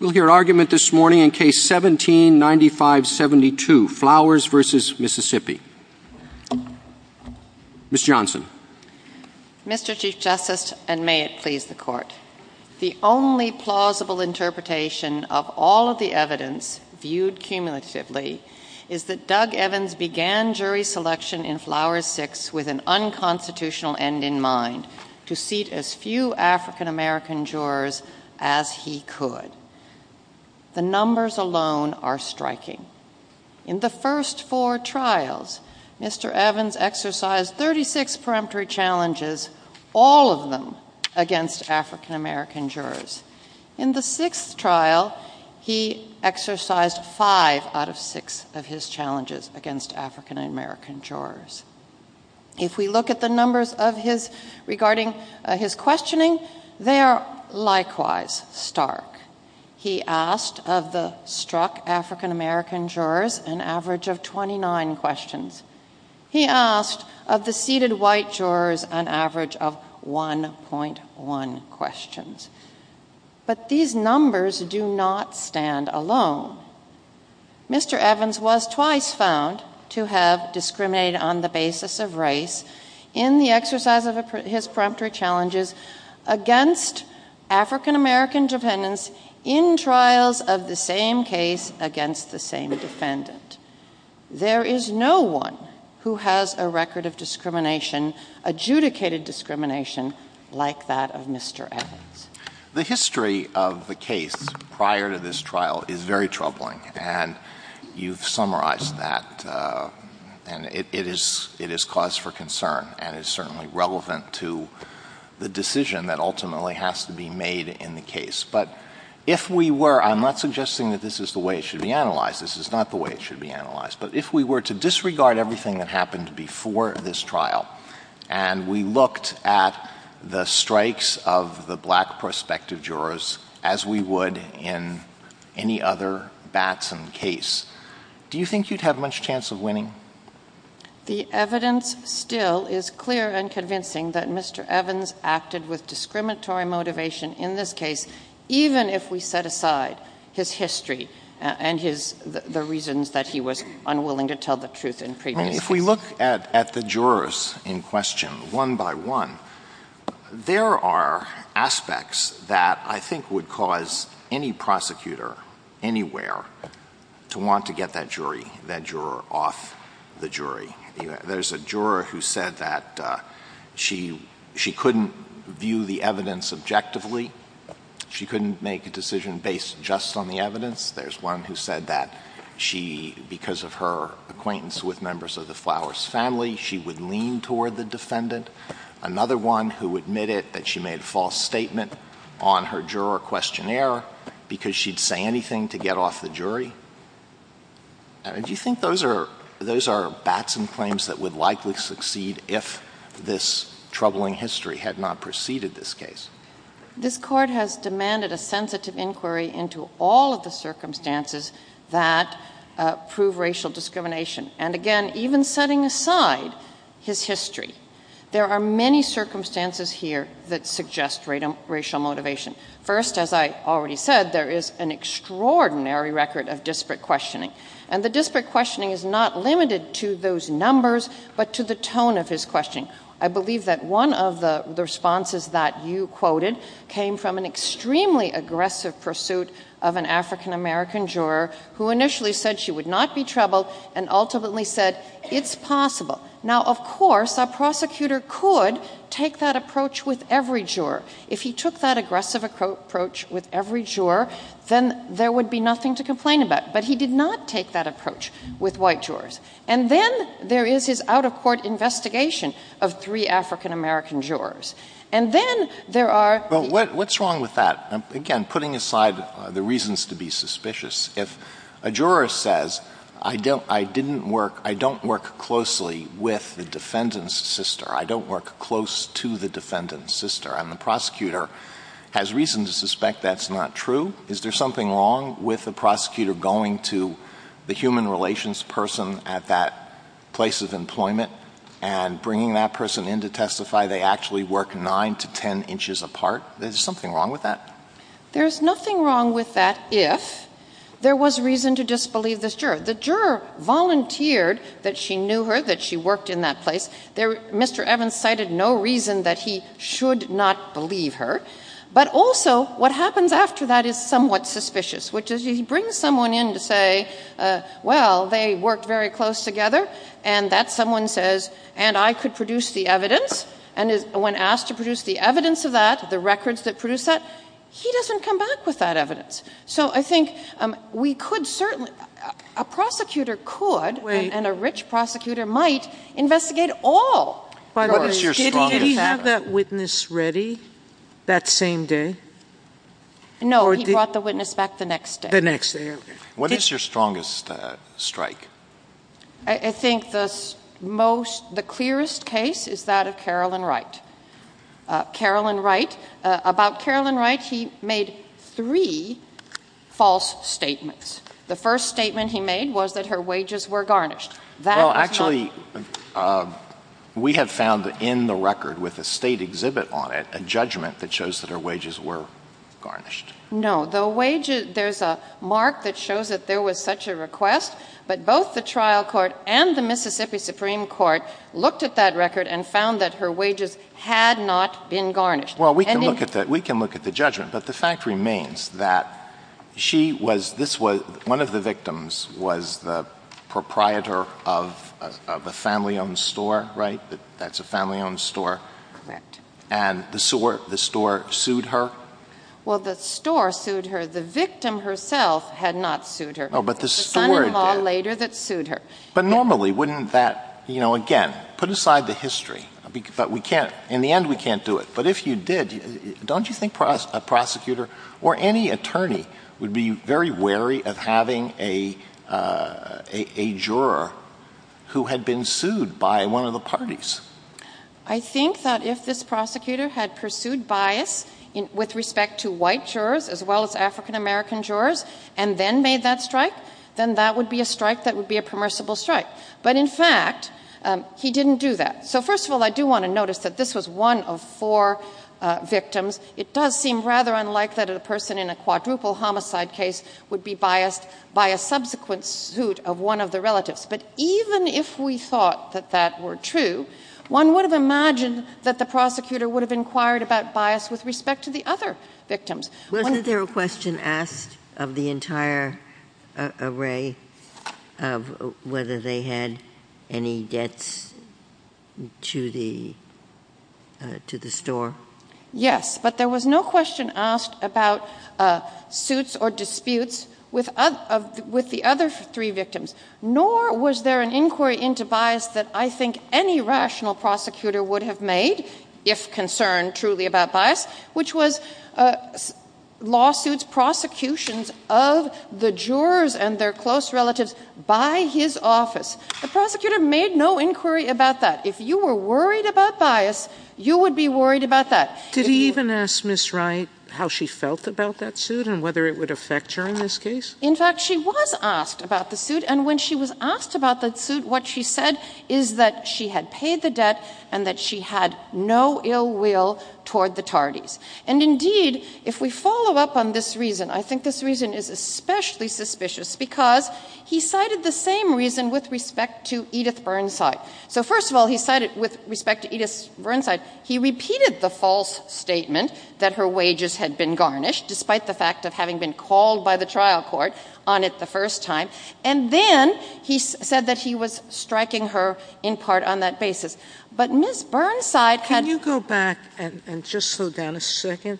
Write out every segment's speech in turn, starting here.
We'll hear argument this morning in case 1795-72, Flowers v. Mississippi. Ms. Johnson. Mr. Chief Justice, and may it please the Court, the only plausible interpretation of all of the evidence viewed cumulatively is that Doug Evans began jury selection in Flowers 6 with an unconstitutional end in mind to seat as few African-American jurors as he could. The numbers alone are striking. In the first four trials, Mr. Evans exercised 36 peremptory challenges, all of them against African-American jurors. In the sixth trial, he exercised five out of six of his challenges against African-American jurors. If we look at the numbers regarding his questioning, they are likewise stark. He asked of the struck African-American jurors an average of 29 questions. He asked of the seated white jurors an average of 1.1 questions. But these numbers do not stand alone. Mr. Evans was twice found to have discriminated on the basis of race in the exercise of his peremptory challenges against African-American defendants in trials of the same case against the same defendant. There is no one who has a record of discrimination, adjudicated discrimination, like that of Mr. Evans. The history of the case prior to this trial is very troubling, and you've summarized that, and it is cause for concern and is certainly relevant to the decision that ultimately has to be made in the case. But if we were, I'm not suggesting that this is the way it should be analyzed, this is not the way it should be analyzed, but if we were to disregard everything that happened before this trial, and we looked at the strikes of the black prospective jurors as we would in any other bats in the case, do you think you'd have much chance of winning? The evidence still is clear and convincing that Mr. Evans acted with discriminatory motivation in this case, even if we set aside his history and the reasons that he was unwilling to tell the truth in previous cases. If we look at the jurors in question, one by one, there are aspects that I think would cause any prosecutor anywhere to want to get that jury, that juror off the jury. There's a juror who said that she couldn't view the evidence objectively, she couldn't make a decision based just on the evidence. There's one who said that she, because of her acquaintance with members of the Flowers family, she would lean toward the defendant. Another one who admitted that she made a false statement on her juror questionnaire because she'd say anything to get off the jury. Do you think those are bats and claims that would likely succeed if this troubling history had not preceded this case? This Court has demanded a sensitive inquiry into all of the circumstances that prove racial discrimination, and again, even setting aside his history, there are many circumstances here that suggest racial motivation. First, as I already said, there is an extraordinary record of disparate questioning, and the disparate questioning is not limited to those numbers, but to the tone of his questioning. I believe that one of the responses that you quoted came from an extremely aggressive pursuit of an African-American juror who initially said she would not be troubled and ultimately said, it's possible. Now, of course, a prosecutor could take that approach with every juror. If he took that aggressive approach with every juror, then there would be nothing to complain about, but he did not take that approach with white jurors. And then there is his out-of-court investigation of three African-American jurors. And then there are... Well, what's wrong with that? Again, putting aside the reasons to be suspicious, if a juror says, I don't work closely with the defendant's sister, I don't work close to the defendant's sister, and the prosecutor has reason to suspect that's not true, is there something wrong with the prosecutor going to the human relations person at that place of employment and bringing that person in to testify they actually work nine to ten inches apart? Is there something wrong with that? There's nothing wrong with that if there was reason to disbelieve this juror. The juror volunteered that she knew her, that she worked in that place. Mr. Evans cited no reason that he should not believe her. But also, what happens after that is somewhat suspicious, which is he brings someone in to say, well, they worked very close together, and that someone says, and I could produce the evidence, and when asked to produce the evidence of that, the records that produce that, he doesn't come back with that evidence. So I think we could certainly... And a rich prosecutor might investigate all. Did he have that witness ready that same day? No, he brought the witness back the next day. What is your strongest strike? I think the clearest case is that of Carolyn Wright. About Carolyn Wright, he made three false statements. The first statement he made was that her wages were garnished. Well, actually, we have found that in the record, with a State exhibit on it, a judgment that shows that her wages were garnished. No, the wages, there's a mark that shows that there was such a request, but both the trial court and the Mississippi Supreme Court looked at that record and found that her wages had not been garnished. Well, we can look at that, we can look at the judgment, but the fact remains that she was, this was, one of the victims was the proprietor of a family-owned store, right? That's a family-owned store. And the store sued her? Well, the store sued her. The victim herself had not sued her. Oh, but the store did. But normally, wouldn't that, you know, again, put aside the history, but we can't, in the end, we can't do it. But if you did, don't you think a prosecutor or any attorney would be very wary of having a juror who had been sued by one of the parties? I think that if this prosecutor had pursued bias with respect to white jurors, as well as African-American jurors, and then made that strike, then that would be a strike that would be a permissible strike. But in fact, he didn't do that. So first of all, I do want to notice that this was one of four victims. It does seem rather unlike that a person in a quadruple homicide case would be biased by a subsequent suit of one of the relatives. But even if we thought that that were true, one would have imagined that the prosecutor would have inquired about bias with respect to the other victims. Wasn't there a question asked of the entire array of whether they had any debts to the store? Yes, but there was no question asked about suits or disputes with the other three victims. Nor was there an inquiry into bias that I think any rational prosecutor would have made, if concerned truly about bias, which was lawsuits, prosecutions of the jurors and their close relatives by his office. The prosecutor made no inquiry about that. If you were worried about bias, you would be worried about that. Did he even ask Ms. Wright how she felt about that suit and whether it would affect her in this case? In fact, she was asked about the suit, and when she was asked about that suit, what she said is that she had paid the debt and that she had no ill will toward the Tardys. And indeed, if we follow up on this reason, I think this reason is especially suspicious because he cited the same reason with respect to Edith Burnside. So, first of all, he cited, with respect to Edith Burnside, he repeated the false statement that her wages had been garnished, despite the fact of having been called by the trial court on it the first time, and then he said that he was striking her in part on that basis. But Ms. Burnside... Can you go back and just slow down a second?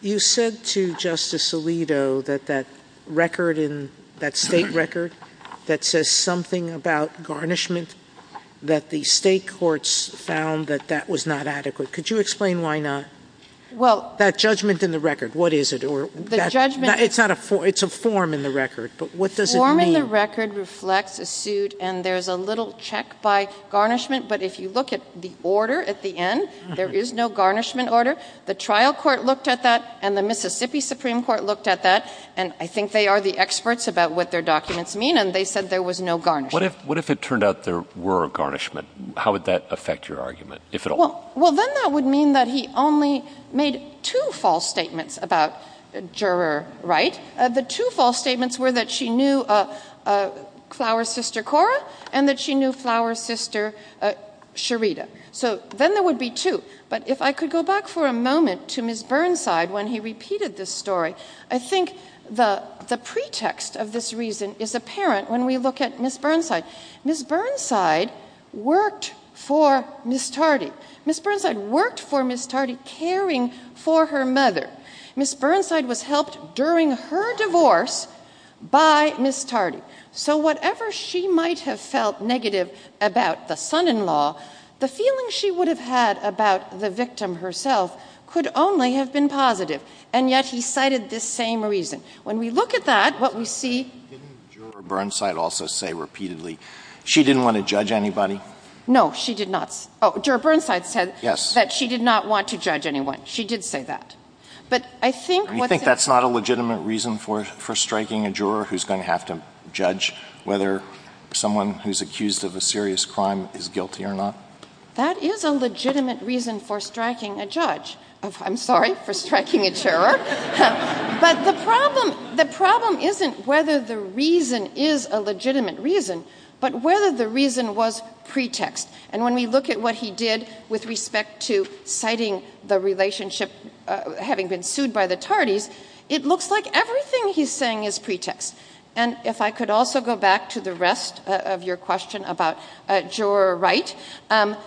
You said to Justice Alito that that record in... that state record that says something about garnishment, that the state courts found that that was not adequate. Could you explain why not? Well... That judgment in the record, what is it? Or... The judgment... It's not a... It's a form in the record, but what does it mean? The form in the record reflects a suit, and there's a little check by garnishment, but if you look at the order at the end, there is no garnishment order. The trial court looked at that, and the Mississippi Supreme Court looked at that, and I think they are the experts about what their documents mean, and they said there was no garnishment. What if it turned out there were a garnishment? How would that affect your argument, if at all? Well, then that would mean that he only made two false statements about juror right. The two false statements were that she knew Flower's sister Cora, and that she knew Flower's sister Sherita. So, then there would be two. But if I could go back for a moment to Ms. Burnside, when he repeated this the pretext of this reason is apparent when we look at Ms. Burnside. Ms. Burnside worked for Ms. Tardy. Ms. Burnside worked for Ms. Tardy, caring for her mother. Ms. Burnside was helped during her divorce by Ms. Tardy. So, whatever she might have felt negative about the son-in-law, the feeling she would have had about the victim herself could only have been positive. And yet he cited the same reason. When we look at that, what we see... Didn't Juror Burnside also say repeatedly she didn't want to judge anybody? No, she did not. Oh, Juror Burnside said that she did not want to judge anyone. She did say that. But I think... You think that's not a legitimate reason for striking a juror who's going to have to judge whether someone who's accused of a serious crime is guilty or not? That is a legitimate reason for striking a judge. I'm sorry, for striking a juror. But the problem isn't whether the reason is a legitimate reason, but whether the reason was pretext. And when we look at what he did with respect to citing the relationship, having been sued by the Tardys, it looks like everything he's saying is pretext. And if I could also go back to the rest of your question about juror right,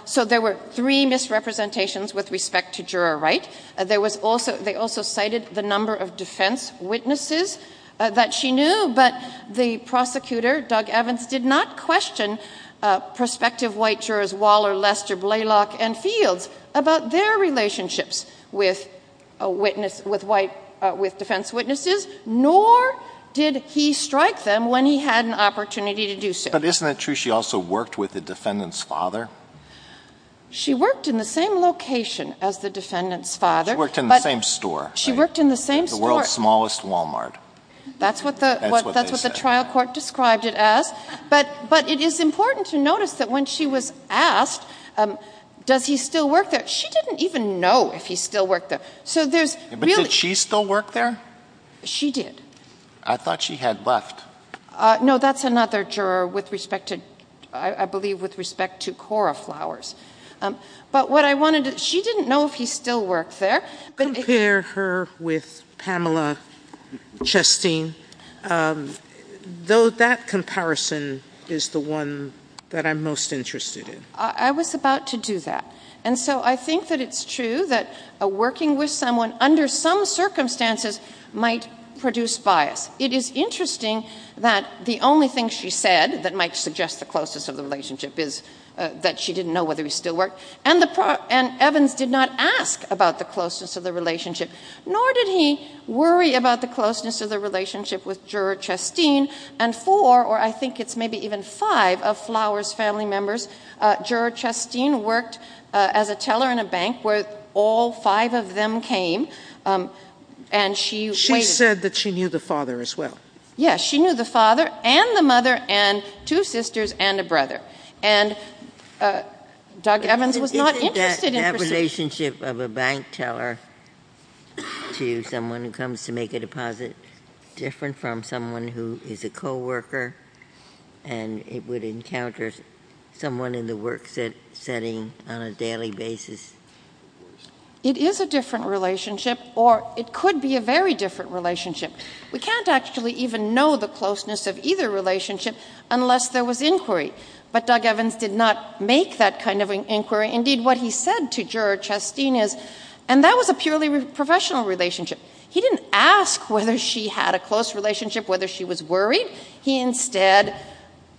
so there were three misrepresentations with respect to juror right. They also cited the number of defence witnesses that she knew, but the prosecutor, Doug Evans, did not question prospective white jurors Waller, Lester, Blaylock and Fields about their relationships with defence witnesses, nor did he strike them when he had an opportunity to do so. But isn't it true she also worked with the defendant's father? She worked in the same location as the defendant's father. She worked in the same store. She worked in the same store. The world's smallest Walmart. That's what the trial court described it as. But it is important to notice that when she was asked, does he still work there? She didn't even know if he still worked there. So there's really... But did she still work there? She did. I thought she had left. No, that's another juror with respect to... I believe with respect to Cora Flowers. But what I wanted to... She didn't know if he still worked there. Compare her with Pamela Chastain, though that comparison is the one that I'm most interested in. I was about to do that. And so I think that it's true that working with someone under some circumstances might produce bias. It is interesting that the only thing she said that might suggest the closeness of the relationship is that she didn't know whether he still worked. And Evans did not ask about the closeness of the relationship, nor did he worry about the closeness of the relationship with Juror Chastain and four, or I think it's maybe even five of Flowers' family members. Juror Chastain worked as a teller in a bank where all five of them came. And she... Yes, she knew the father and the mother and two sisters and a brother. And Doug Evans was not interested in... Isn't that relationship of a bank teller to someone who comes to make a deposit different from someone who is a co-worker and it would encounter someone in the work setting on a daily basis? It is a different relationship or it could be a very different relationship. We can't actually even know the closeness of either relationship unless there was inquiry. But Doug Evans did not make that kind of inquiry. Indeed, what he said to Juror Chastain is, and that was a purely professional relationship. He didn't ask whether she had a close relationship, whether she was worried. He instead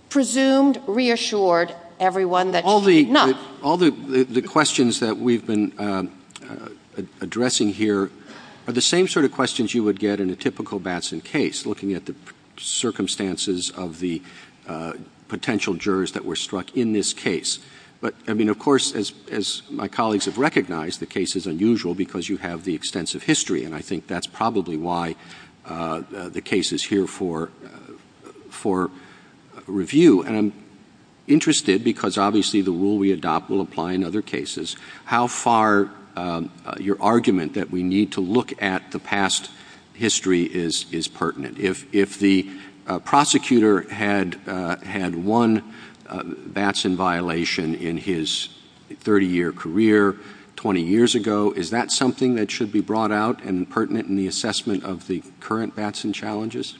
presumed, reassured everyone that she did not. All the questions that we've been addressing here are the same sort of questions you would get in a typical Batson case, looking at the circumstances of the potential jurors that were struck in this case. But I mean, of course, as my colleagues have recognized, the case is unusual because you have the extensive history. And I think that's probably why the case is here for review. And I'm interested because obviously the rule we adopt will apply in other cases. How far your argument that we need to look at the past history is pertinent. If the prosecutor had one Batson violation in his 30-year career 20 years ago, is that something that should be brought out and pertinent in the assessment of the current Batson challenges?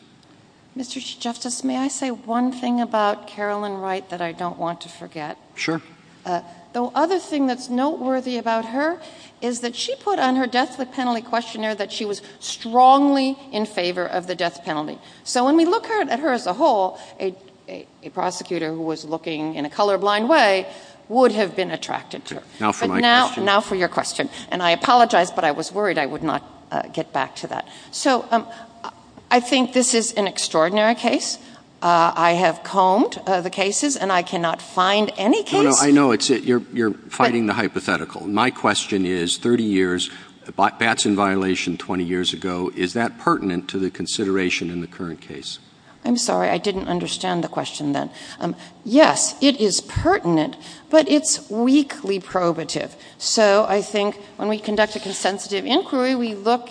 Mr. Chief Justice, may I say one thing about Carolyn Wright that I don't want to forget? Sure. The other thing that's noteworthy about her is that she put on her death penalty questionnaire that she was strongly in favor of the death penalty. So when we look at her as a whole, a prosecutor who was looking in a colorblind way would have been attracted to her. Now for my question. Now for your question. And I apologize, but I was worried I would not get back to that. So I think this is an extraordinary case. I have combed the cases and I cannot find any case. I know, you're fighting the hypothetical. My question is 30 years, Batson violation 20 years ago, is that pertinent to the consideration in the current case? I'm sorry, I didn't understand the question then. Yes, it is pertinent, but it's weakly probative. So I think when we conduct a consensitive inquiry, we look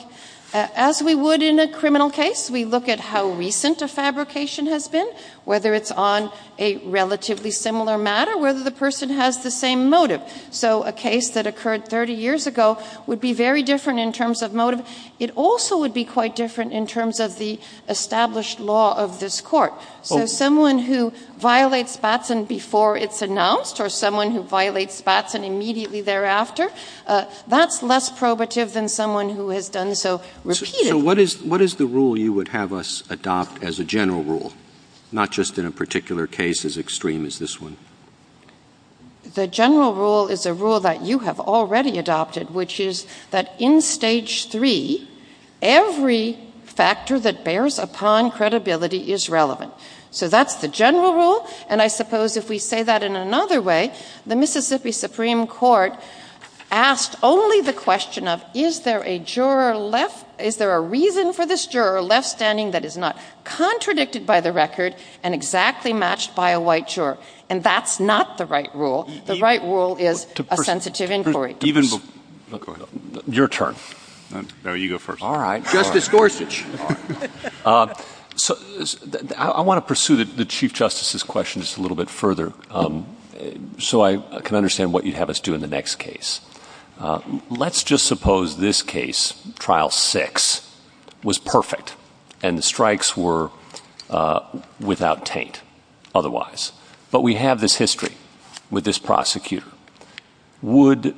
as we would in a criminal case. We look at how recent a fabrication has been, whether it's on a relatively similar matter, whether the person has the same motive. So a case that occurred 30 years ago would be very different in terms of motive. It also would be quite different in terms of the established law of this court. So someone who violates Batson before it's announced or someone who violates Batson immediately thereafter, that's less probative than someone who has done so repeatedly. So what is the rule you would have us adopt as a general rule? Not just in a particular case as extreme as this one. The general rule is a rule that you have already adopted, which is that in stage three, every factor that bears upon credibility is relevant. So that's the general rule. And I suppose if we say that in another way, the Mississippi Supreme Court asked only the question of, is there a reason for this juror left standing that is not contradicted by the record and exactly matched by a white juror? And that's not the right rule. The right rule is a sensitive inquiry. Your turn. No, you go first. All right, Justice Gorsuch. I wanna pursue the Chief Justice's question just a little bit further so I can understand what you'd have us do in the next case. Let's just suppose this case, trial six, was perfect and the strikes were without taint otherwise. But we have this history with this prosecutor. Would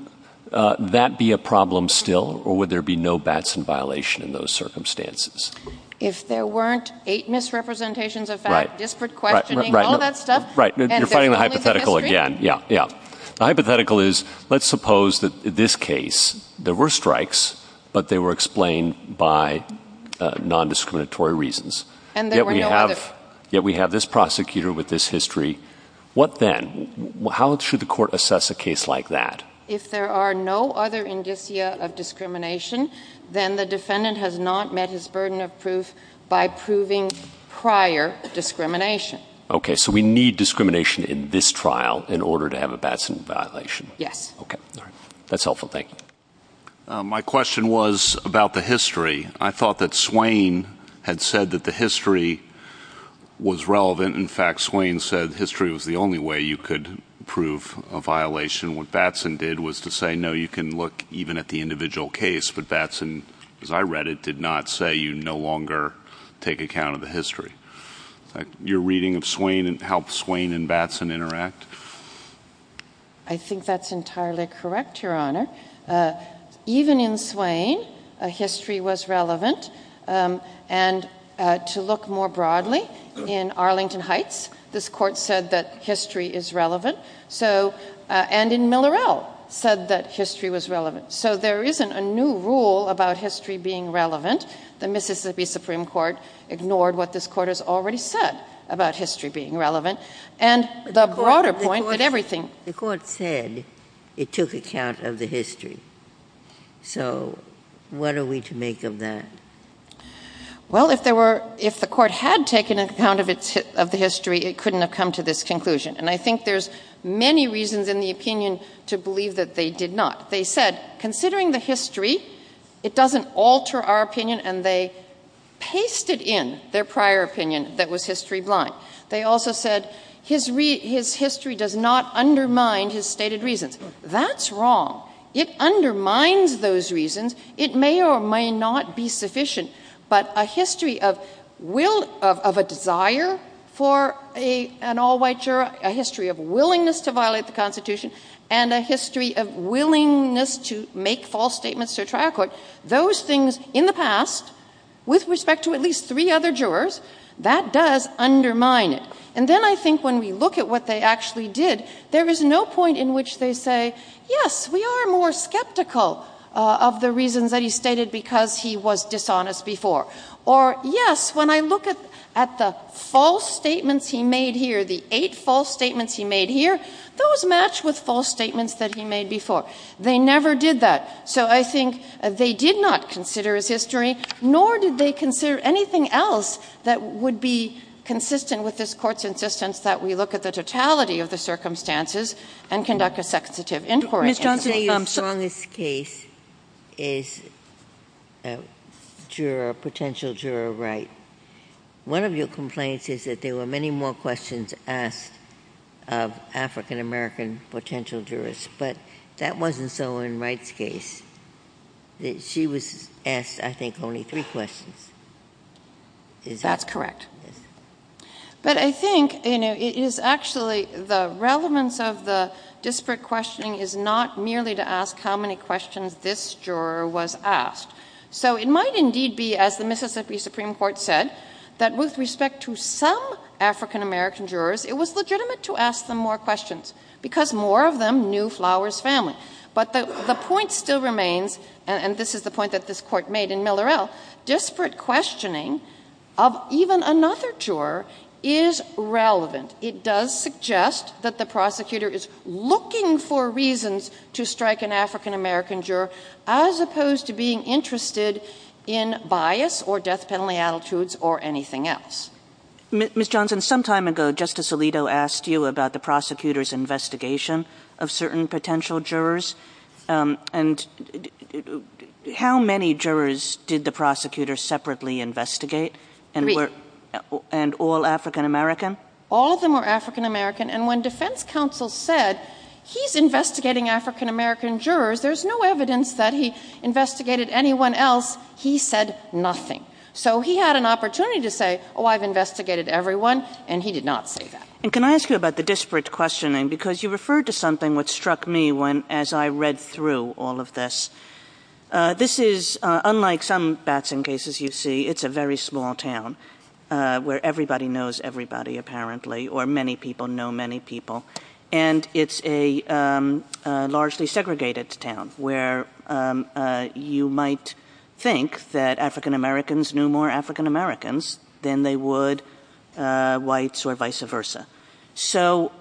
that be a problem still or would there be no Batson violation in those circumstances? If there weren't eight misrepresentations of fact, disparate questioning, all that stuff. Right, you're finding the hypothetical again. Yeah, yeah. The hypothetical is, let's suppose that this case, there were strikes, but they were explained by non-discriminatory reasons. And there were no other. Yet we have this prosecutor with this history. What then? How should the court assess a case like that? If there are no other indicia of discrimination, then the defendant has not met his burden of proof by proving prior discrimination. Okay, so we need discrimination in this trial in order to have a Batson violation. Yes. Okay, all right. That's helpful, thank you. My question was about the history. I thought that Swain had said that the history was relevant. In fact, Swain said history was the only way you could prove a violation. What Batson did was to say, no, you can look even at the individual case. But Batson, as I read it, did not say you no longer take account of the history. Your reading of Swain and how Swain and Batson interact? I think that's entirely correct, Your Honor. Even in Swain, history was relevant. And to look more broadly, in Arlington Heights, this court said that history is relevant. So, and in Millerell, said that history was relevant. So there isn't a new rule about history being relevant. The Mississippi Supreme Court ignored what this court has already said about history being relevant. And the broader point that everything- The court said it took account of the history. So what are we to make of that? Well, if the court had taken account of the history, it couldn't have come to this conclusion. And I think there's many reasons in the opinion to believe that they did not. They said, considering the history, it doesn't alter our opinion. And they pasted in their prior opinion that was history blind. They also said, his history does not undermine his stated reasons. That's wrong. It undermines those reasons. It may or may not be sufficient. But a history of a desire for an all-white juror, a history of willingness to violate the Constitution, and a history of willingness to make false statements to a trial court, those things in the past, with respect to at least three other jurors, that does undermine it. And then I think when we look at what they actually did, there is no point in which they say, yes, we are more skeptical of the reasons that he stated because he was dishonest before. Or yes, when I look at the false statements he made here, the eight false statements he made here, those match with false statements that he made before. They never did that. So I think they did not consider his history, nor did they consider anything else that would be consistent with this court's insistence that we look at the totality of the circumstances and conduct a substantive inquiry. Ms. Johnson, your strongest case is a potential juror of right. One of your complaints is that there were many more questions asked of African-American potential jurors, but that wasn't so in Wright's case. She was asked, I think, only three questions. That's correct. But I think it is actually the relevance of the disparate questioning is not merely to ask how many questions this juror was asked. So it might indeed be, as the Mississippi Supreme Court said, that with respect to some African-American jurors, because more of them knew Flowers' family. But the point still remains, and this is the point that this court made in Miller-El, disparate questioning of even another juror is relevant. It does suggest that the prosecutor is looking for reasons to strike an African-American juror as opposed to being interested in bias or death penalty attitudes or anything else. Ms. Johnson, some time ago, Justice Alito asked you about the prosecutor's investigation of certain potential jurors. And how many jurors did the prosecutor separately investigate? Three. And all African-American? All of them were African-American. And when defense counsel said, he's investigating African-American jurors, there's no evidence that he investigated anyone else, he said nothing. So he had an opportunity to say, oh, I've investigated everyone, and he did not say that. And can I ask you about the disparate questioning? Because you referred to something which struck me as I read through all of this. This is, unlike some Batson cases you see, it's a very small town where everybody knows everybody, apparently, or many people know many people. And it's a largely segregated town where you might think that African-Americans knew more African-Americans than they would whites or vice versa. So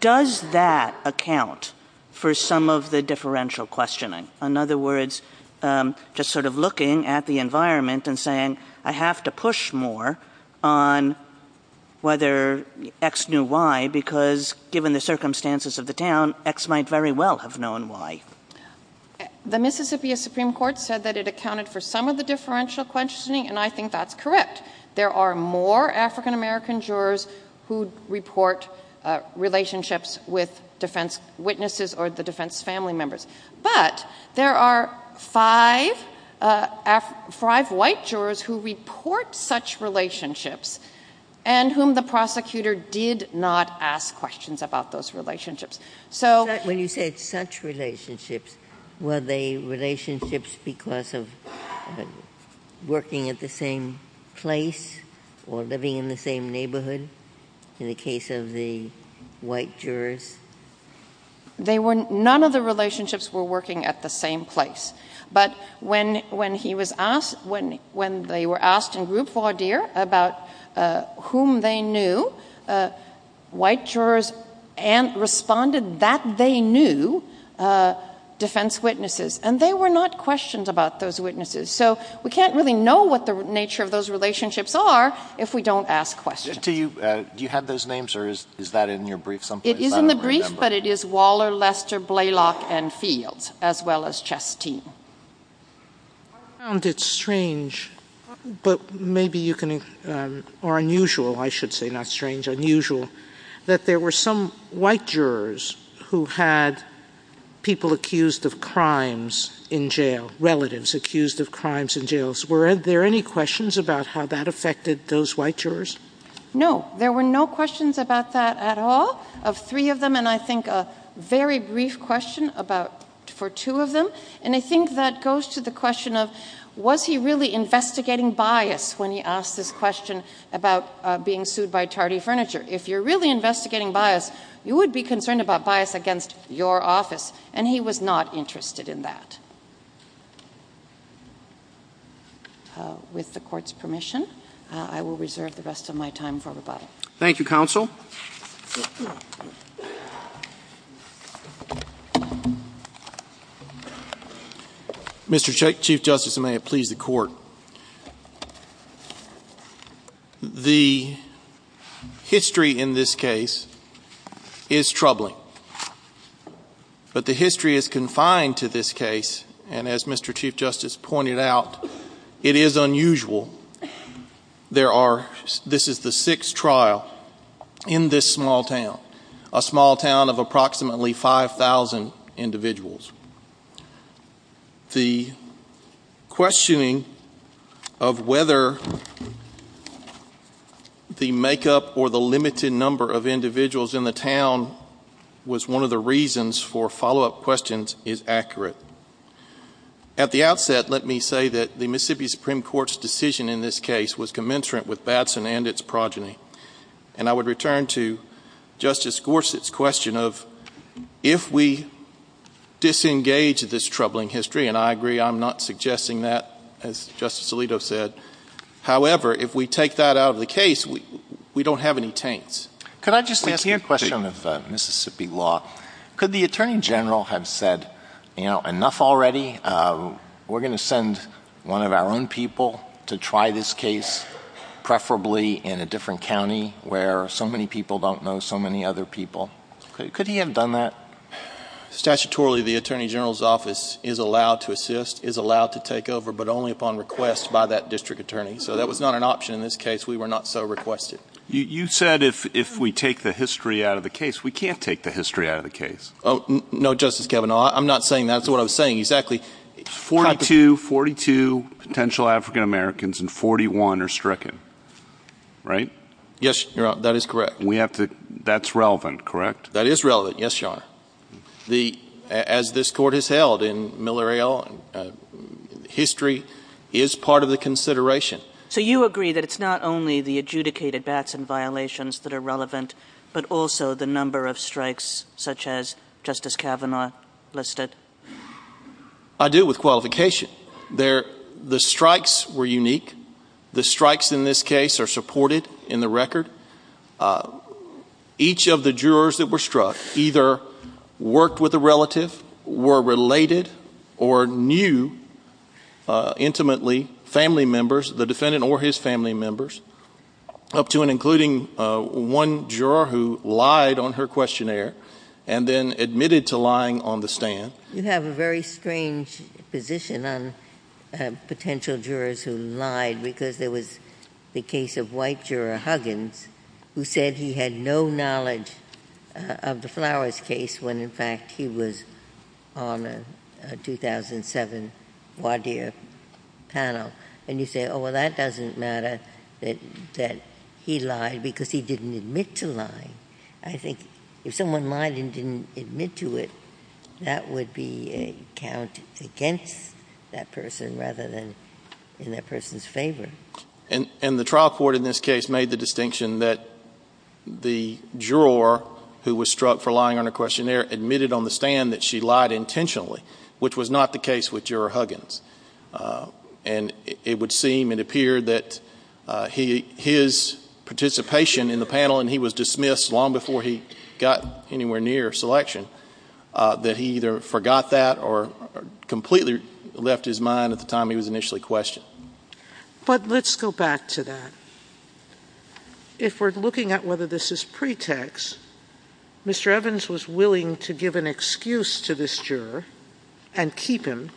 does that account for some of the differential questioning? In other words, just sort of looking at the environment and saying, I have to push more on whether X knew Y because given the circumstances of the town, X might very well have known Y. The Mississippi Supreme Court said that it accounted for some of the differential questioning, and I think that's correct. There are more African-American jurors who report relationships with defense witnesses or the defense family members. But there are five white jurors who report such relationships and whom the prosecutor did not ask questions about those relationships. So- When you said such relationships, were they relationships because of working at the same place or living in the same neighborhood in the case of the white jurors? They were, none of the relationships were working at the same place. But when he was asked, when they were asked in group, voir dire, about whom they knew, white jurors responded that they knew defense witnesses. And they were not questioned about those witnesses. So we can't really know what the nature of those relationships are if we don't ask questions. Do you have those names, or is that in your brief someplace? It is in the brief, but it is Waller, Lester, Blaylock, and Fields, as well as Chasteen. I found it strange, but maybe you can, or unusual, I should say, not strange, unusual, that there were some white jurors who had people accused of crimes in jail, relatives accused of crimes in jails. Were there any questions about how that affected those white jurors? No, there were no questions about that at all, of three of them, and I think a very brief question for two of them. And I think that goes to the question of, was he really investigating bias when he asked this question about being sued by Tardy Furniture? If you're really investigating bias, you would be concerned about bias against your office, and he was not interested in that. So, with the court's permission, I will reserve the rest of my time for rebuttal. Thank you, counsel. Mr. Chief Justice, and may it please the court. The history in this case is troubling, but the history is confined to this case, and as Mr. Chief Justice pointed out, it is unusual. This is the sixth trial in this small town, a small town of approximately 5,000 individuals. The questioning of whether the makeup or the limited number of individuals in the town was one of the reasons for follow-up questions is accurate. At the outset, let me say that the Mississippi Supreme Court's decision in this case was commensurate with Batson and its progeny. And I would return to Justice Gorsuch's question of, if we disengage this troubling history, and I agree, I'm not suggesting that, as Justice Alito said, however, if we take that out of the case, we don't have any taints. Could I just ask you a question of Mississippi law? Could the Attorney General have said, enough already, we're gonna send one of our own people to try this case, preferably in a different county where so many people don't know so many other people? Could he have done that? Statutorily, the Attorney General's office is allowed to assist, is allowed to take over, but only upon request by that district attorney. So that was not an option in this case. We were not so requested. You said if we take the history out of the case. We can't take the history out of the case. Oh, no, Justice Kavanaugh, I'm not saying that. That's what I was saying, exactly. 42, 42 potential African Americans and 41 are stricken. Right? Yes, Your Honor, that is correct. We have to, that's relevant, correct? That is relevant, yes, Your Honor. The, as this court has held in Miller et al, history is part of the consideration. So you agree that it's not only the adjudicated backs and violations that are relevant, but also the number of strikes, such as Justice Kavanaugh listed? I do, with qualification. There, the strikes were unique. The strikes in this case are supported in the record. Each of the jurors that were struck either worked with a relative, were related, or knew intimately family members, the defendant or his family members, up to and including one juror who lied on her questionnaire and then admitted to lying on the stand. You have a very strange position on potential jurors who lied because there was the case of white juror Huggins who said he had no knowledge of the Flowers case when, in fact, he was on a 2007 Wadeer panel. And you say, oh, well, that doesn't matter that he lied because he didn't admit to lying. I think if someone lied and didn't admit to it, that would be a count against that person rather than in that person's favor. And the trial court in this case made the distinction that the juror who was struck for lying on her questionnaire admitted on the stand that she lied intentionally, which was not the case with juror Huggins. And it would seem and appear that his participation in the panel, and he was dismissed long before he got anywhere near selection, that he either forgot that or completely left his mind at the time he was initially questioned. But let's go back to that. If we're looking at whether this is pretext, Mr. Evans was willing to give an excuse to this juror and keep him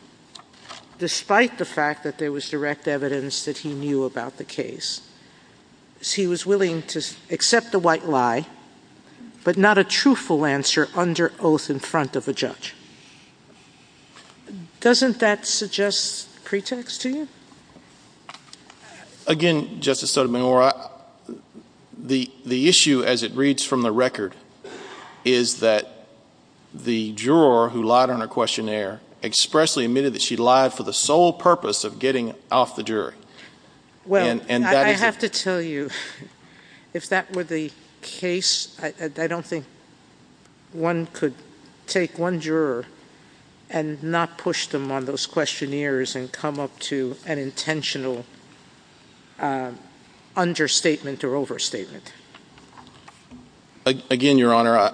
despite the fact that there was direct evidence that he knew about the case. He was willing to accept the white lie, but not a truthful answer under oath in front of a judge. Doesn't that suggest pretext to you? Again, Justice Sotomayor, the issue, as it reads from the record, is that the juror who lied on her questionnaire expressly admitted that she lied for the sole purpose of getting off the jury. Well, I have to tell you, if that were the case, I don't think one could take one juror and not push them on those questionnaires and come up to an intentional understatement or overstatement. Again, Your Honor,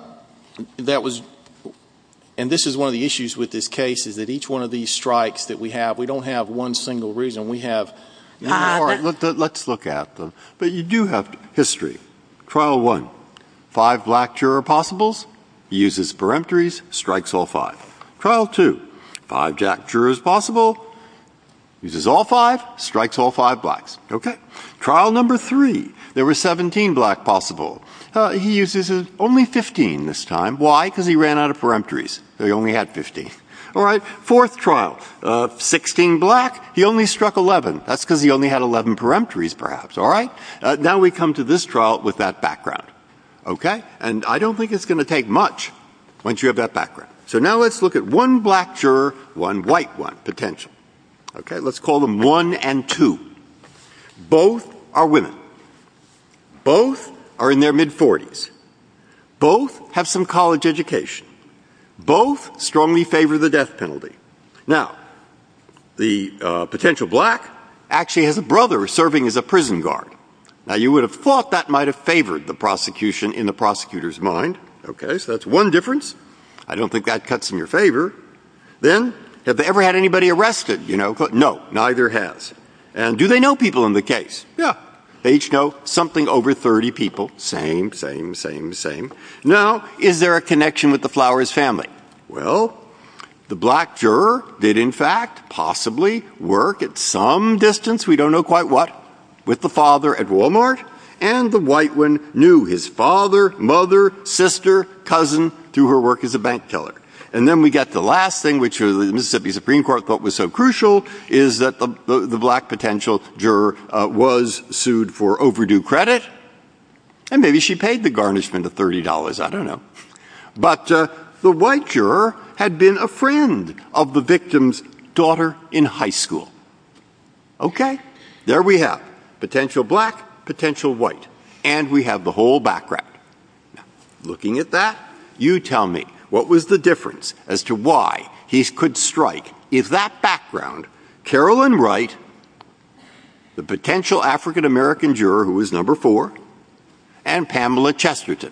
and this is one of the issues with this case, is that each one of these strikes that we have, we don't have one single reason. We have, let's look at them. But you do have history. Trial one, five black juror possibles, uses peremptories, strikes all five. Trial two, five jack jurors possible, uses all five, strikes all five blacks, okay? Trial number three, there were 17 black possible. He uses only 15 this time, why? Because he ran out of peremptories, so he only had 15. All right, fourth trial, 16 black, he only struck 11. That's because he only had 11 peremptories perhaps, all right? Now we come to this trial with that background, okay? And I don't think it's gonna take much once you have that background. So now let's look at one black juror, one white one, potential, okay? Let's call them one and two. Both are women. Both are in their mid-40s. Both have some college education. Both strongly favor the death penalty. Now, the potential black actually has a brother serving as a prison guard. Now you would have thought that might have favored the prosecution in the prosecutor's mind, okay? So that's one difference. I don't think that cuts in your favor. Then, have they ever had anybody arrested, you know? No, neither has. And do they know people in the case? Yeah, they each know something over 30 people. Same, same, same, same. Now, is there a connection with the Flowers family? Well, the black juror did in fact possibly work at some distance, we don't know quite what, with the father at Walmart. And the white one knew his father, mother, sister, cousin, through her work as a bank killer. And then we get the last thing, which the Mississippi Supreme Court thought was so crucial, is that the black potential juror was sued for overdue credit. And maybe she paid the garnishment of $30, I don't know. But the white juror had been a friend of the victim's daughter in high school, okay? There we have potential black, potential white. And we have the whole background. Looking at that, you tell me, what was the difference as to why he could strike if that background, Carolyn Wright, the potential African-American juror who was number four, and Pamela Chesterton,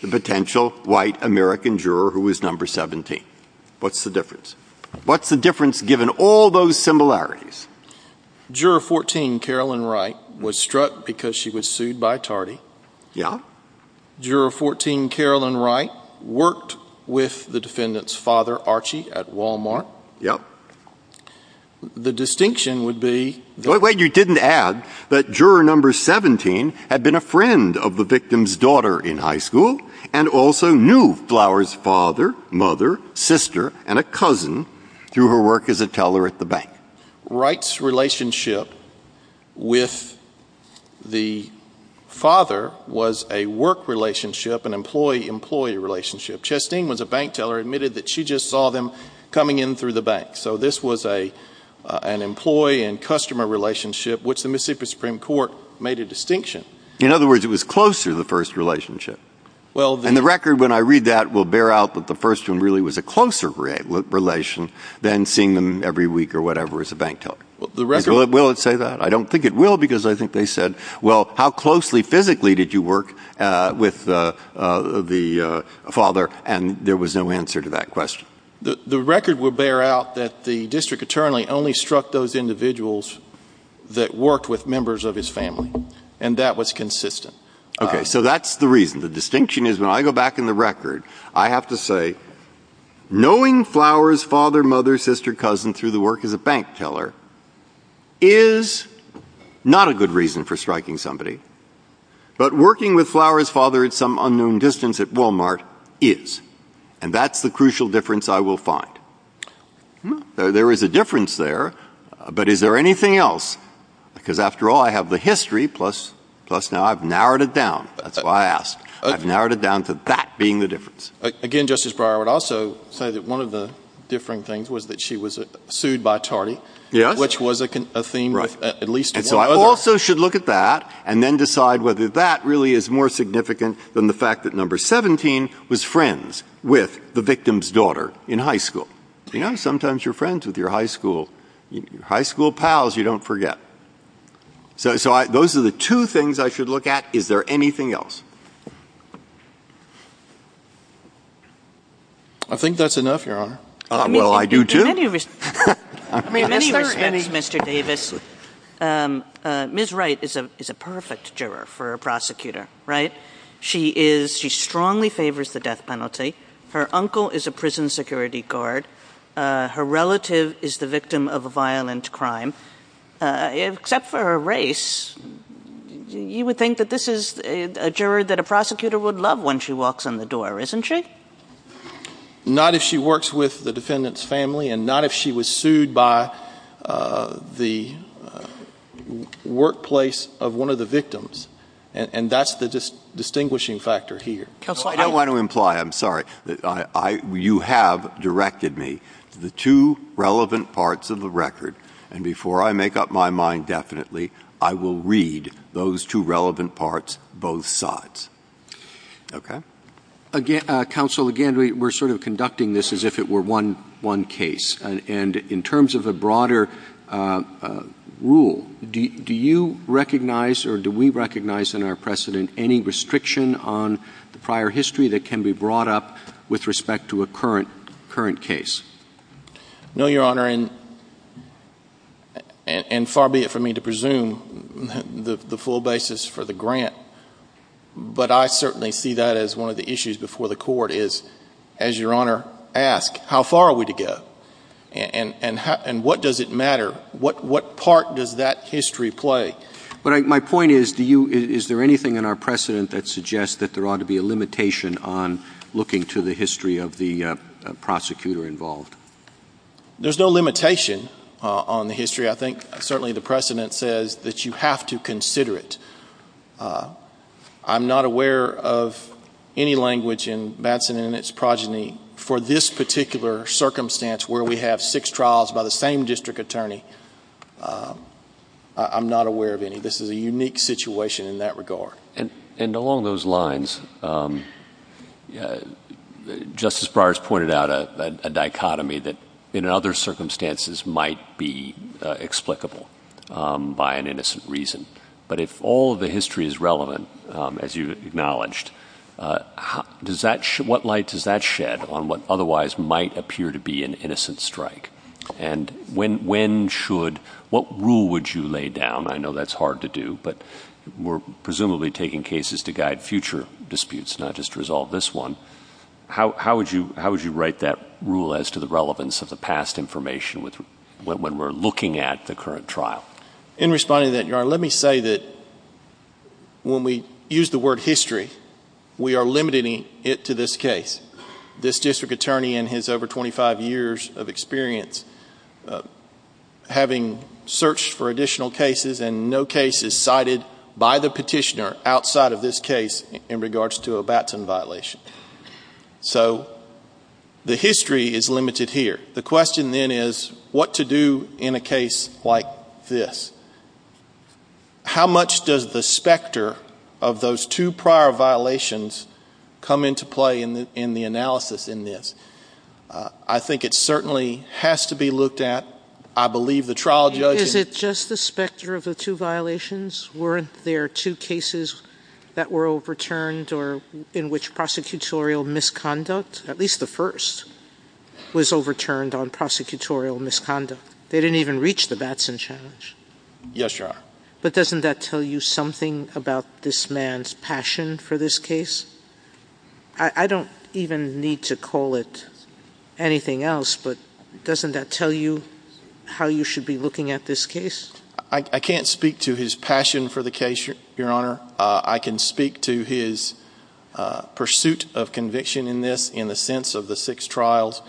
the potential white American juror who was number 17? What's the difference? What's the difference given all those similarities? Juror 14, Carolyn Wright, was struck because she was sued by Tardy. Yeah. Juror 14, Carolyn Wright, worked with the defendant's daughter, Archie, at Walmart. Yep. The distinction would be- Wait, wait, you didn't add that juror number 17 had been a friend of the victim's daughter in high school and also knew Flower's father, mother, sister, and a cousin through her work as a teller at the bank. Wright's relationship with the father was a work relationship, an employee-employee relationship. Chesterton was a bank teller, admitted that she just saw them coming in through the bank. So this was an employee and customer relationship which the Mississippi Supreme Court made a distinction. In other words, it was closer, the first relationship. Well- And the record when I read that will bear out that the first one really was a closer relation than seeing them every week or whatever as a bank teller. The record- Will it say that? I don't think it will because I think they said, well, how closely physically did you work with the father? And there was no answer to that question. The record will bear out that the district attorney only struck those individuals that worked with members of his family and that was consistent. Okay, so that's the reason. The distinction is when I go back in the record, I have to say, knowing Flower's father, mother, sister, cousin through the work as a bank teller is not a good reason for striking somebody. But working with Flower's father at some unknown distance at Walmart is. And that's the crucial difference I will find. There is a difference there, but is there anything else? Because after all, I have the history, plus now I've narrowed it down. That's why I asked. I've narrowed it down to that being the difference. Again, Justice Breyer, I would also say that one of the differing things was that she was sued by Tardy. Yes. Which was a theme of at least one other. And so I also should look at that and then decide whether that really is more significant than the fact that number 17 was friends with the victim's daughter in high school. You know, sometimes you're friends with your high school, high school pals you don't forget. So those are the two things I should look at. Is there anything else? I think that's enough, Your Honor. Well, I do too. In many respects, Mr. Davis, Ms. Wright is a perfect juror for a prosecutor, right? She strongly favors the death penalty. Her uncle is a prison security guard. Her relative is the victim of a violent crime. Except for her race, you would think that this is a juror that a prosecutor would love when she walks in the door, isn't she? Not if she works with the defendant's family and not if she was sued by the workplace of one of the victims. And that's the distinguishing factor here. Counsel, I don't want to imply, I'm sorry, you have directed me to the two relevant parts of the record. And before I make up my mind definitely, I will read those two relevant parts, both sides. Okay? Counsel, again, we're sort of conducting this as if it were one case. And in terms of a broader rule, do you recognize or do we recognize in our precedent any restriction on the prior history that can be brought up with respect to a current case? No, Your Honor. And far be it for me to presume the full basis for the grant, but I certainly see that as one of the issues before the court is, as Your Honor asked, how far are we to go? And what does it matter? What part does that history play? My point is, is there anything in our precedent that suggests that there ought to be a limitation on looking to the history of the prosecutor involved? There's no limitation on the history. I think certainly the precedent says that you have to consider it. I'm not aware of any language in Batson and its progeny for this particular circumstance where we have six trials by the same district attorney. I'm not aware of any. This is a unique situation in that regard. And along those lines, Justice Breyer's pointed out a dichotomy that in other circumstances might be explicable by an innocent reason. But if all of the history is relevant, as you acknowledged, what light does that shed on what otherwise might appear to be an innocent strike? And when should, what rule would you lay down? I know that's hard to do, but we're presumably taking cases to guide future disputes, not just resolve this one. How would you write that rule as to the relevance of the past information when we're looking at the current trial? In responding to that, Your Honor, let me say that when we use the word history, we are limiting it to this case. This district attorney in his over 25 years of experience having searched for additional cases and no case is cited by the petitioner outside of this case in regards to a Batson violation. So the history is limited here. The question then is, what to do in a case like this? How much does the specter of those two prior violations come into play in the analysis in this? I think it certainly has to be looked at. I believe the trial judge- Is it just the specter of the two violations? Weren't there two cases that were overturned or in which prosecutorial misconduct, at least the first, was overturned on prosecutorial misconduct? They didn't even reach the Batson challenge. Yes, Your Honor. But doesn't that tell you something about this man's passion for this case? I don't even need to call it anything else, but doesn't that tell you how you should be looking at this case? I can't speak to his passion for the case, Your Honor. I can speak to his pursuit of conviction in this in the sense of the six trials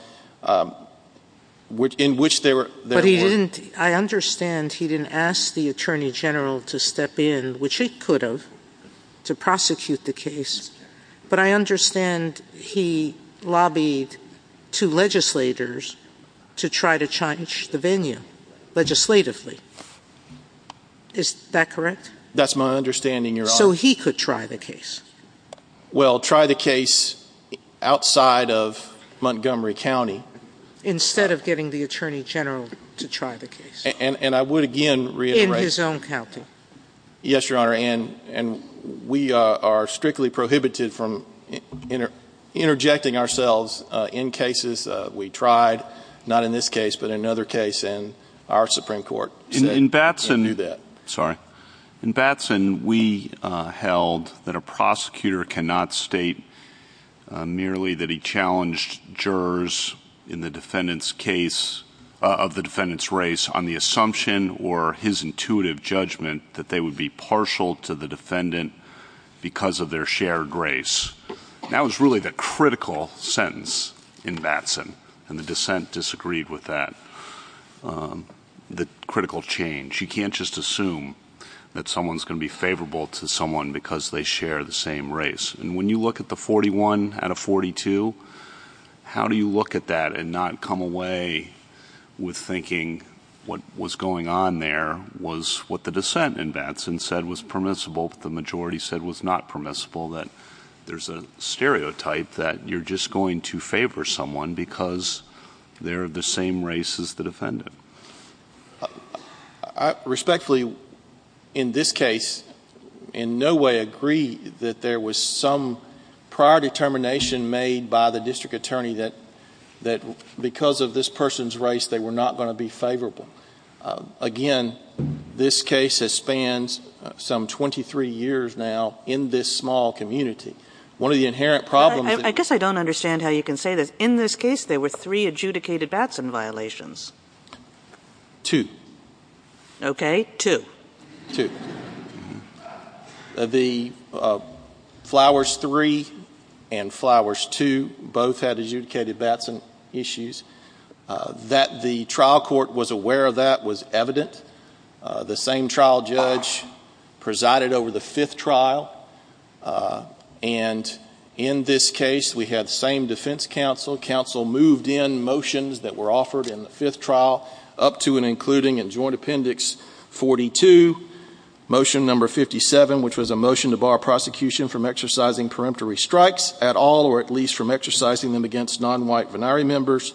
in which they were- I understand he didn't ask the attorney general to step in, which he could have, to prosecute the case. But I understand he lobbied two legislators to try to change the venue legislatively. Is that correct? That's my understanding, Your Honor. So he could try the case? Well, try the case outside of Montgomery County. Instead of getting the attorney general to try the case. And I would again reiterate- In his own county. Yes, Your Honor, and we are strictly prohibited from interjecting ourselves in cases we tried, not in this case, but in another case in our Supreme Court. In Batson- We knew that. Sorry. In Batson, we held that a prosecutor cannot state merely that he challenged jurors in the defendant's case, of the defendant's race, on the assumption or his intuitive judgment that they would be partial to the defendant because of their shared race. That was really the critical sentence in Batson, and the dissent disagreed with that, the critical change. You can't just assume that someone's gonna be favorable to someone because they share the same race. And when you look at the 41 out of 42, how do you look at that and not come away with thinking what was going on there was what the dissent in Batson said was permissible, but the majority said was not permissible, that there's a stereotype that you're just going to favor someone because they're of the same race as the defendant. I respectfully, in this case, in no way agree that there was some prior determination made by the district attorney that because of this person's race, they were not gonna be favorable. Again, this case has spanned some 23 years now in this small community. One of the inherent problems- I guess I don't understand how you can say this. In this case, there were three adjudicated Batson violations. Two. Okay, two. Two. The Flowers Three and Flowers Two both had adjudicated Batson issues. That the trial court was aware of that was evident. The same trial judge presided over the fifth trial. And in this case, we had the same defense counsel. Counsel moved in motions that were offered in the fifth trial up to and including in joint appendix 42, motion number 57, which was a motion to bar prosecution from exercising peremptory strikes at all, or at least from exercising them against non-white venari members.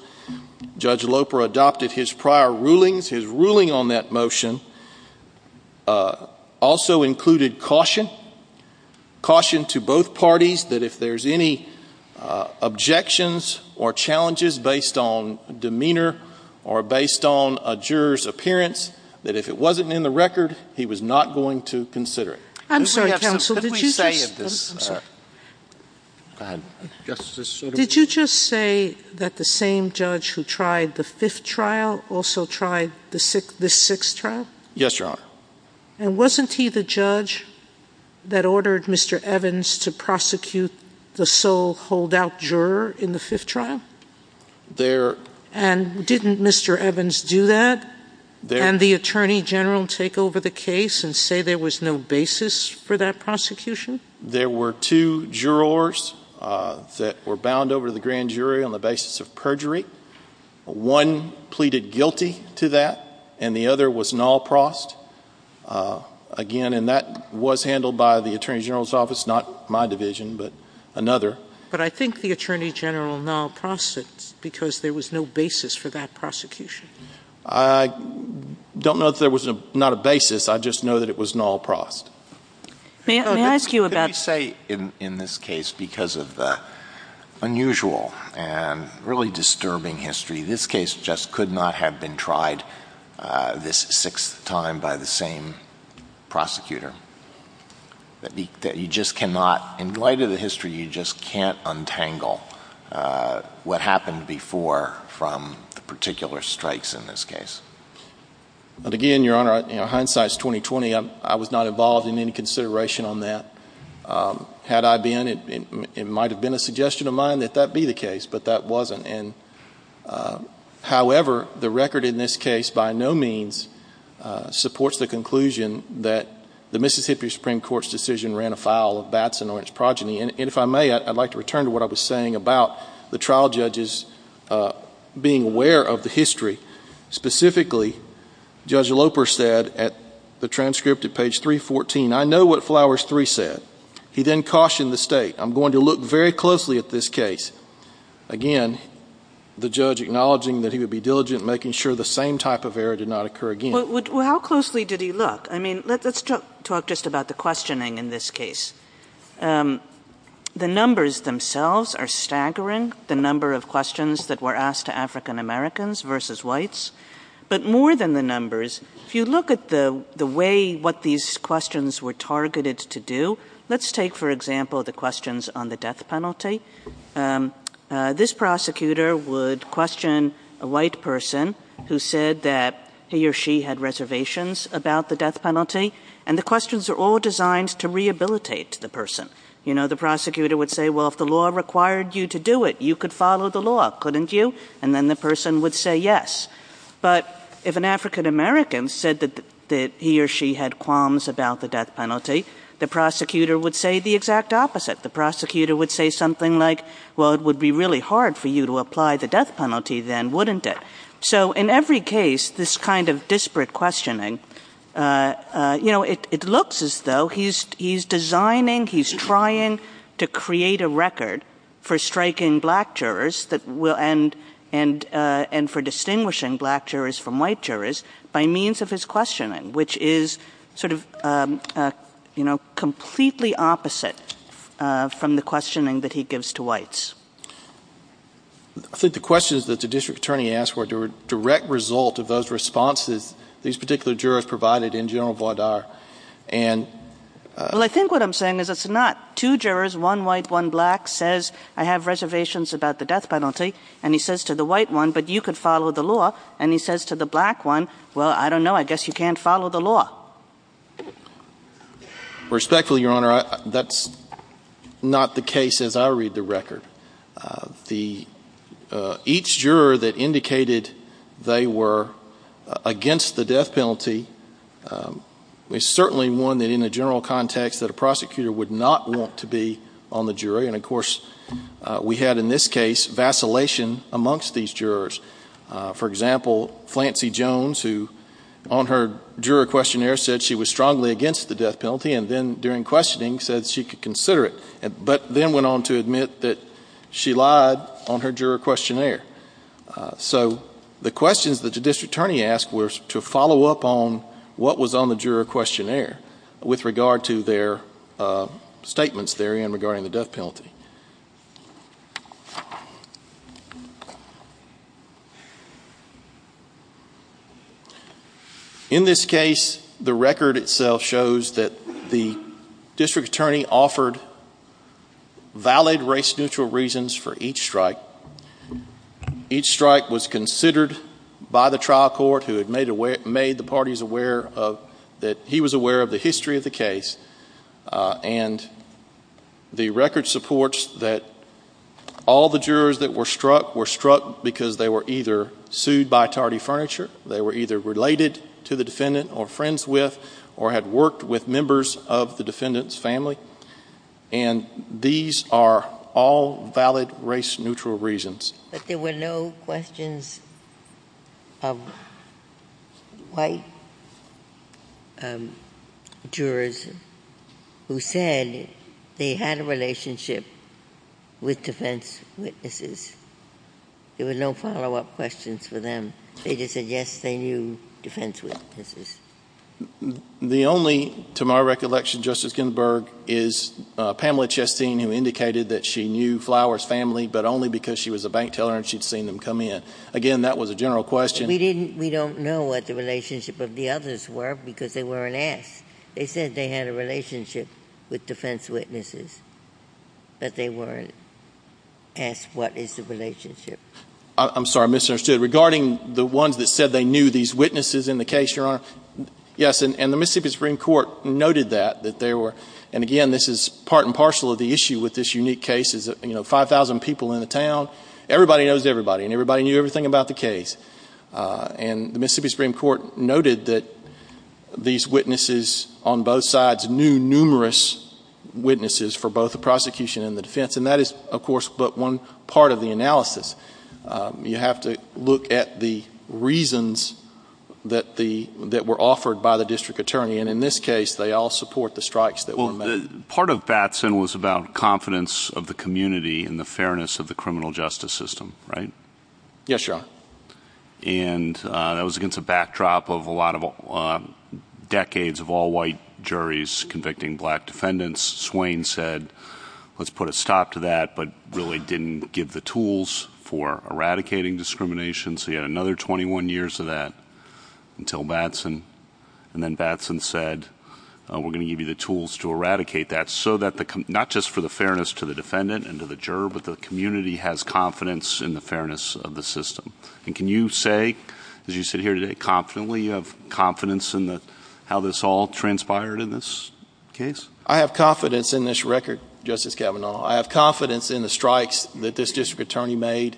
Judge Loper adopted his prior rulings. His ruling on that motion also included caution. Caution to both parties that if there's any objections or challenges based on demeanor or based on a juror's appearance, that if it wasn't in the record, he was not going to consider it. I'm sorry, counsel, did you just- Can we have some- Can we say if this- I'm sorry. Go ahead. Justice Sotomayor. Did you just say that the same judge who tried the fifth trial also tried this sixth trial? Yes, Your Honor. And wasn't he the judge that ordered Mr. Evans to prosecute the sole holdout juror in the fifth trial? And didn't Mr. Evans do that? And the attorney general take over the case and say there was no basis for that prosecution? There were two jurors that were bound over to the grand jury on the basis of perjury. One pleaded guilty to that, and the other was null prosed. Again, and that was handled by the attorney general's office not my division, but another. But I think the attorney general null prosed because there was no basis for that prosecution. I don't know that there was not a basis, I just know that it was null prosed. May I ask you about- Could you say in this case, because of the unusual and really disturbing history, this case just could not have been tried this sixth time by the same prosecutor? That you just cannot, in light of the history, you just can't untangle what happened before from the particular strikes in this case. But again, your honor, hindsight's 20-20. I was not involved in any consideration on that. Had I been, it might have been a suggestion of mine that that be the case, but that wasn't. And however, the record in this case by no means supports the conclusion that the Mississippi Supreme Court's decision ran afoul of Batson or its progeny. And if I may, I'd like to return to what I was saying about the trial judges being aware of the history. Specifically, Judge Loper said at the transcript at page 314, I know what Flowers III said. He then cautioned the state, I'm going to look very closely at this case. Again, the judge acknowledging that he would be diligent in making sure the same type of error did not occur again. How closely did he look? I mean, let's talk just about the questioning in this case. The numbers themselves are staggering, the number of questions that were asked to African Americans versus whites. But more than the numbers, if you look at the way what these questions were targeted to do, let's take for example the questions on the death penalty. This prosecutor would question a white person who said that he or she had reservations about the death penalty. And the questions are all designed to rehabilitate the person. You know, the prosecutor would say, well, if the law required you to do it, you could follow the law, couldn't you? And then the person would say yes. But if an African American said that he or she had qualms about the death penalty, the prosecutor would say the exact opposite. The prosecutor would say something like, well, it would be really hard for you to apply the death penalty then, wouldn't it? So in every case, this kind of disparate questioning, you know, it looks as though he's designing, he's trying to create a record for striking black jurors that will, and for distinguishing black jurors from white jurors by means of his questioning, which is sort of, you know, completely opposite from the questioning that he gives to whites. I think the questions that the district attorney asked were a direct result of those responses these particular jurors provided in General Vauder. And- Well, I think what I'm saying is it's not. Two jurors, one white, one black, says I have reservations about the death penalty. And he says to the white one, but you could follow the law. And he says to the black one, well, I don't know. I guess you can't follow the law. Respectfully, Your Honor, that's not the case as I read the record. The, each juror that indicated they were against the death penalty is certainly one that in a general context that a prosecutor would not want to be on the jury. And of course, we had in this case, vacillation amongst these jurors. For example, Flancy Jones, who on her juror questionnaire said she was strongly against the death penalty, and then during questioning said she could consider it, but then went on to admit that she lied on her juror questionnaire. So the questions that the district attorney asked were to follow up on what was on the juror questionnaire with regard to their statements therein regarding the death penalty. In this case, the record itself shows that the district attorney offered valid race-neutral reasons for each strike. Each strike was considered by the trial court who had made the parties aware of, that he was aware of the history of the case. And the record supports that all the jurors that were struck were struck because they were either sued by Tardy Furniture, they were either related to the defendant or friends with, or had worked with members of the defendant's family. And these are all valid race-neutral reasons. But there were no questions of white jurors who said they had a relationship with defense witnesses. There were no follow-up questions for them. They just said yes, they knew defense witnesses. The only, to my recollection, Justice Ginsburg, is Pamela Chastain who indicated that she knew Flowers' family, but only because she was a bank teller and she'd seen them come in. Again, that was a general question. We don't know what the relationship of the others were because they weren't asked. They said they had a relationship with defense witnesses, but they weren't asked what is the relationship. I'm sorry, I misunderstood. Regarding the ones that said they knew these witnesses in the case, Your Honor, yes. And the Mississippi Supreme Court noted that, that there were, and again, this is part and parcel of the issue with this unique case, is that 5,000 people in the town, everybody knows everybody, and everybody knew everything about the case. And the Mississippi Supreme Court noted that these witnesses on both sides knew numerous witnesses for both the prosecution and the defense. And that is, of course, but one part of the analysis. You have to look at the reasons that were offered by the district attorney. And in this case, they all support the strikes that were made. Part of Batson was about confidence of the community and the fairness of the criminal justice system, right? Yes, Your Honor. And that was against a backdrop of a lot of decades of all-white juries convicting black defendants. Swain said, let's put a stop to that, but really didn't give the tools for eradicating discrimination. So you had another 21 years of that until Batson. And then Batson said, we're gonna give you the tools to eradicate that, not just for the fairness to the defendant and to the juror, but the community has confidence in the fairness of the system. And can you say, as you sit here today, confidently you have confidence in how this all transpired in this case? I have confidence in this record, Justice Kavanaugh. I have confidence in the strikes that this district attorney made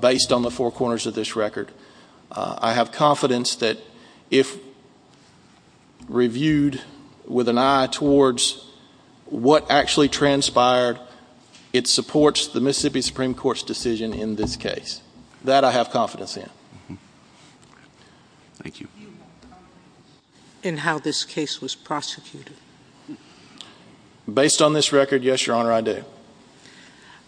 based on the four corners of this record. I have confidence that if reviewed with an eye towards what actually transpired, it supports the Mississippi Supreme Court's decision in this case. That I have confidence in. Thank you. In how this case was prosecuted? Based on this record, yes, Your Honor, I do.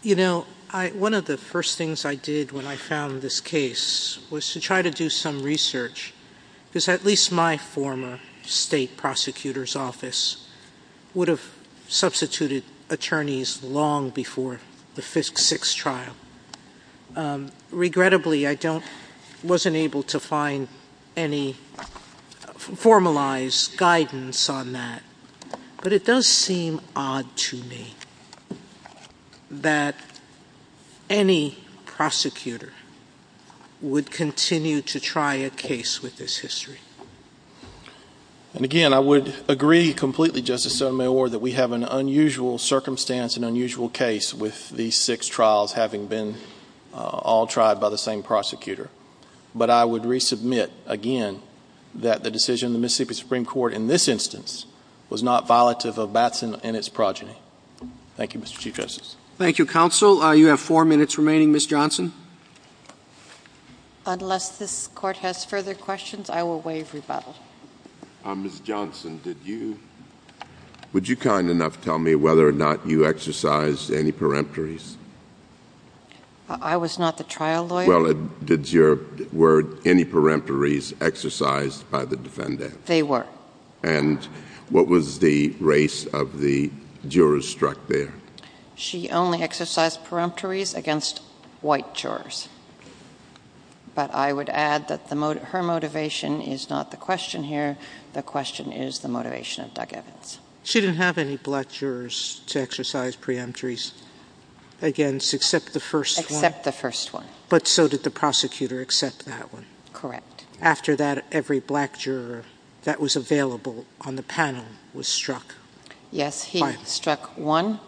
You know, one of the first things I did when I found this case was to try to do some research, because at least my former state prosecutor's office would have substituted attorneys long before the FISC six trial. Regrettably, I wasn't able to find any formalized guidance on that, but it does seem odd to me. That any prosecutor would continue to try a case with this history. And again, I would agree completely, Justice Sotomayor, that we have an unusual circumstance, an unusual case with these six trials having been all tried by the same prosecutor. But I would resubmit, again, that the decision of the Mississippi Supreme Court in this instance was not violative of Batson and its progeny. Thank you, Mr. Chief Justice. Thank you, counsel. You have four minutes remaining. Ms. Johnson? Unless this court has further questions, I will waive rebuttal. Ms. Johnson, would you kind enough to tell me whether or not you exercised any peremptories? I was not the trial lawyer. Well, did your word, any peremptories exercised by the defendant? They were. And what was the race of the jurors struck there? She only exercised peremptories against white jurors. But I would add that her motivation is not the question here. The question is the motivation of Doug Evans. She didn't have any black jurors to exercise peremptories against, except the first one. Except the first one. But so did the prosecutor except that one. Correct. After that, every black juror that was available on the panel was struck. Yes, he struck one.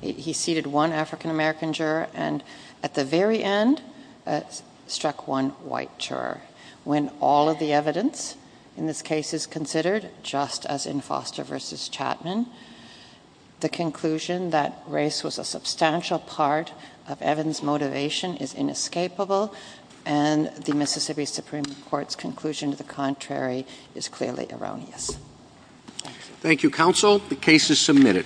He seated one African-American juror, and at the very end, struck one white juror. When all of the evidence in this case is considered, just as in Foster versus Chapman, the conclusion that race was a substantial part of Evans' motivation is inescapable, and the Mississippi Supreme Court's conclusion to the contrary is clearly erroneous. Thank you, counsel. The case is submitted.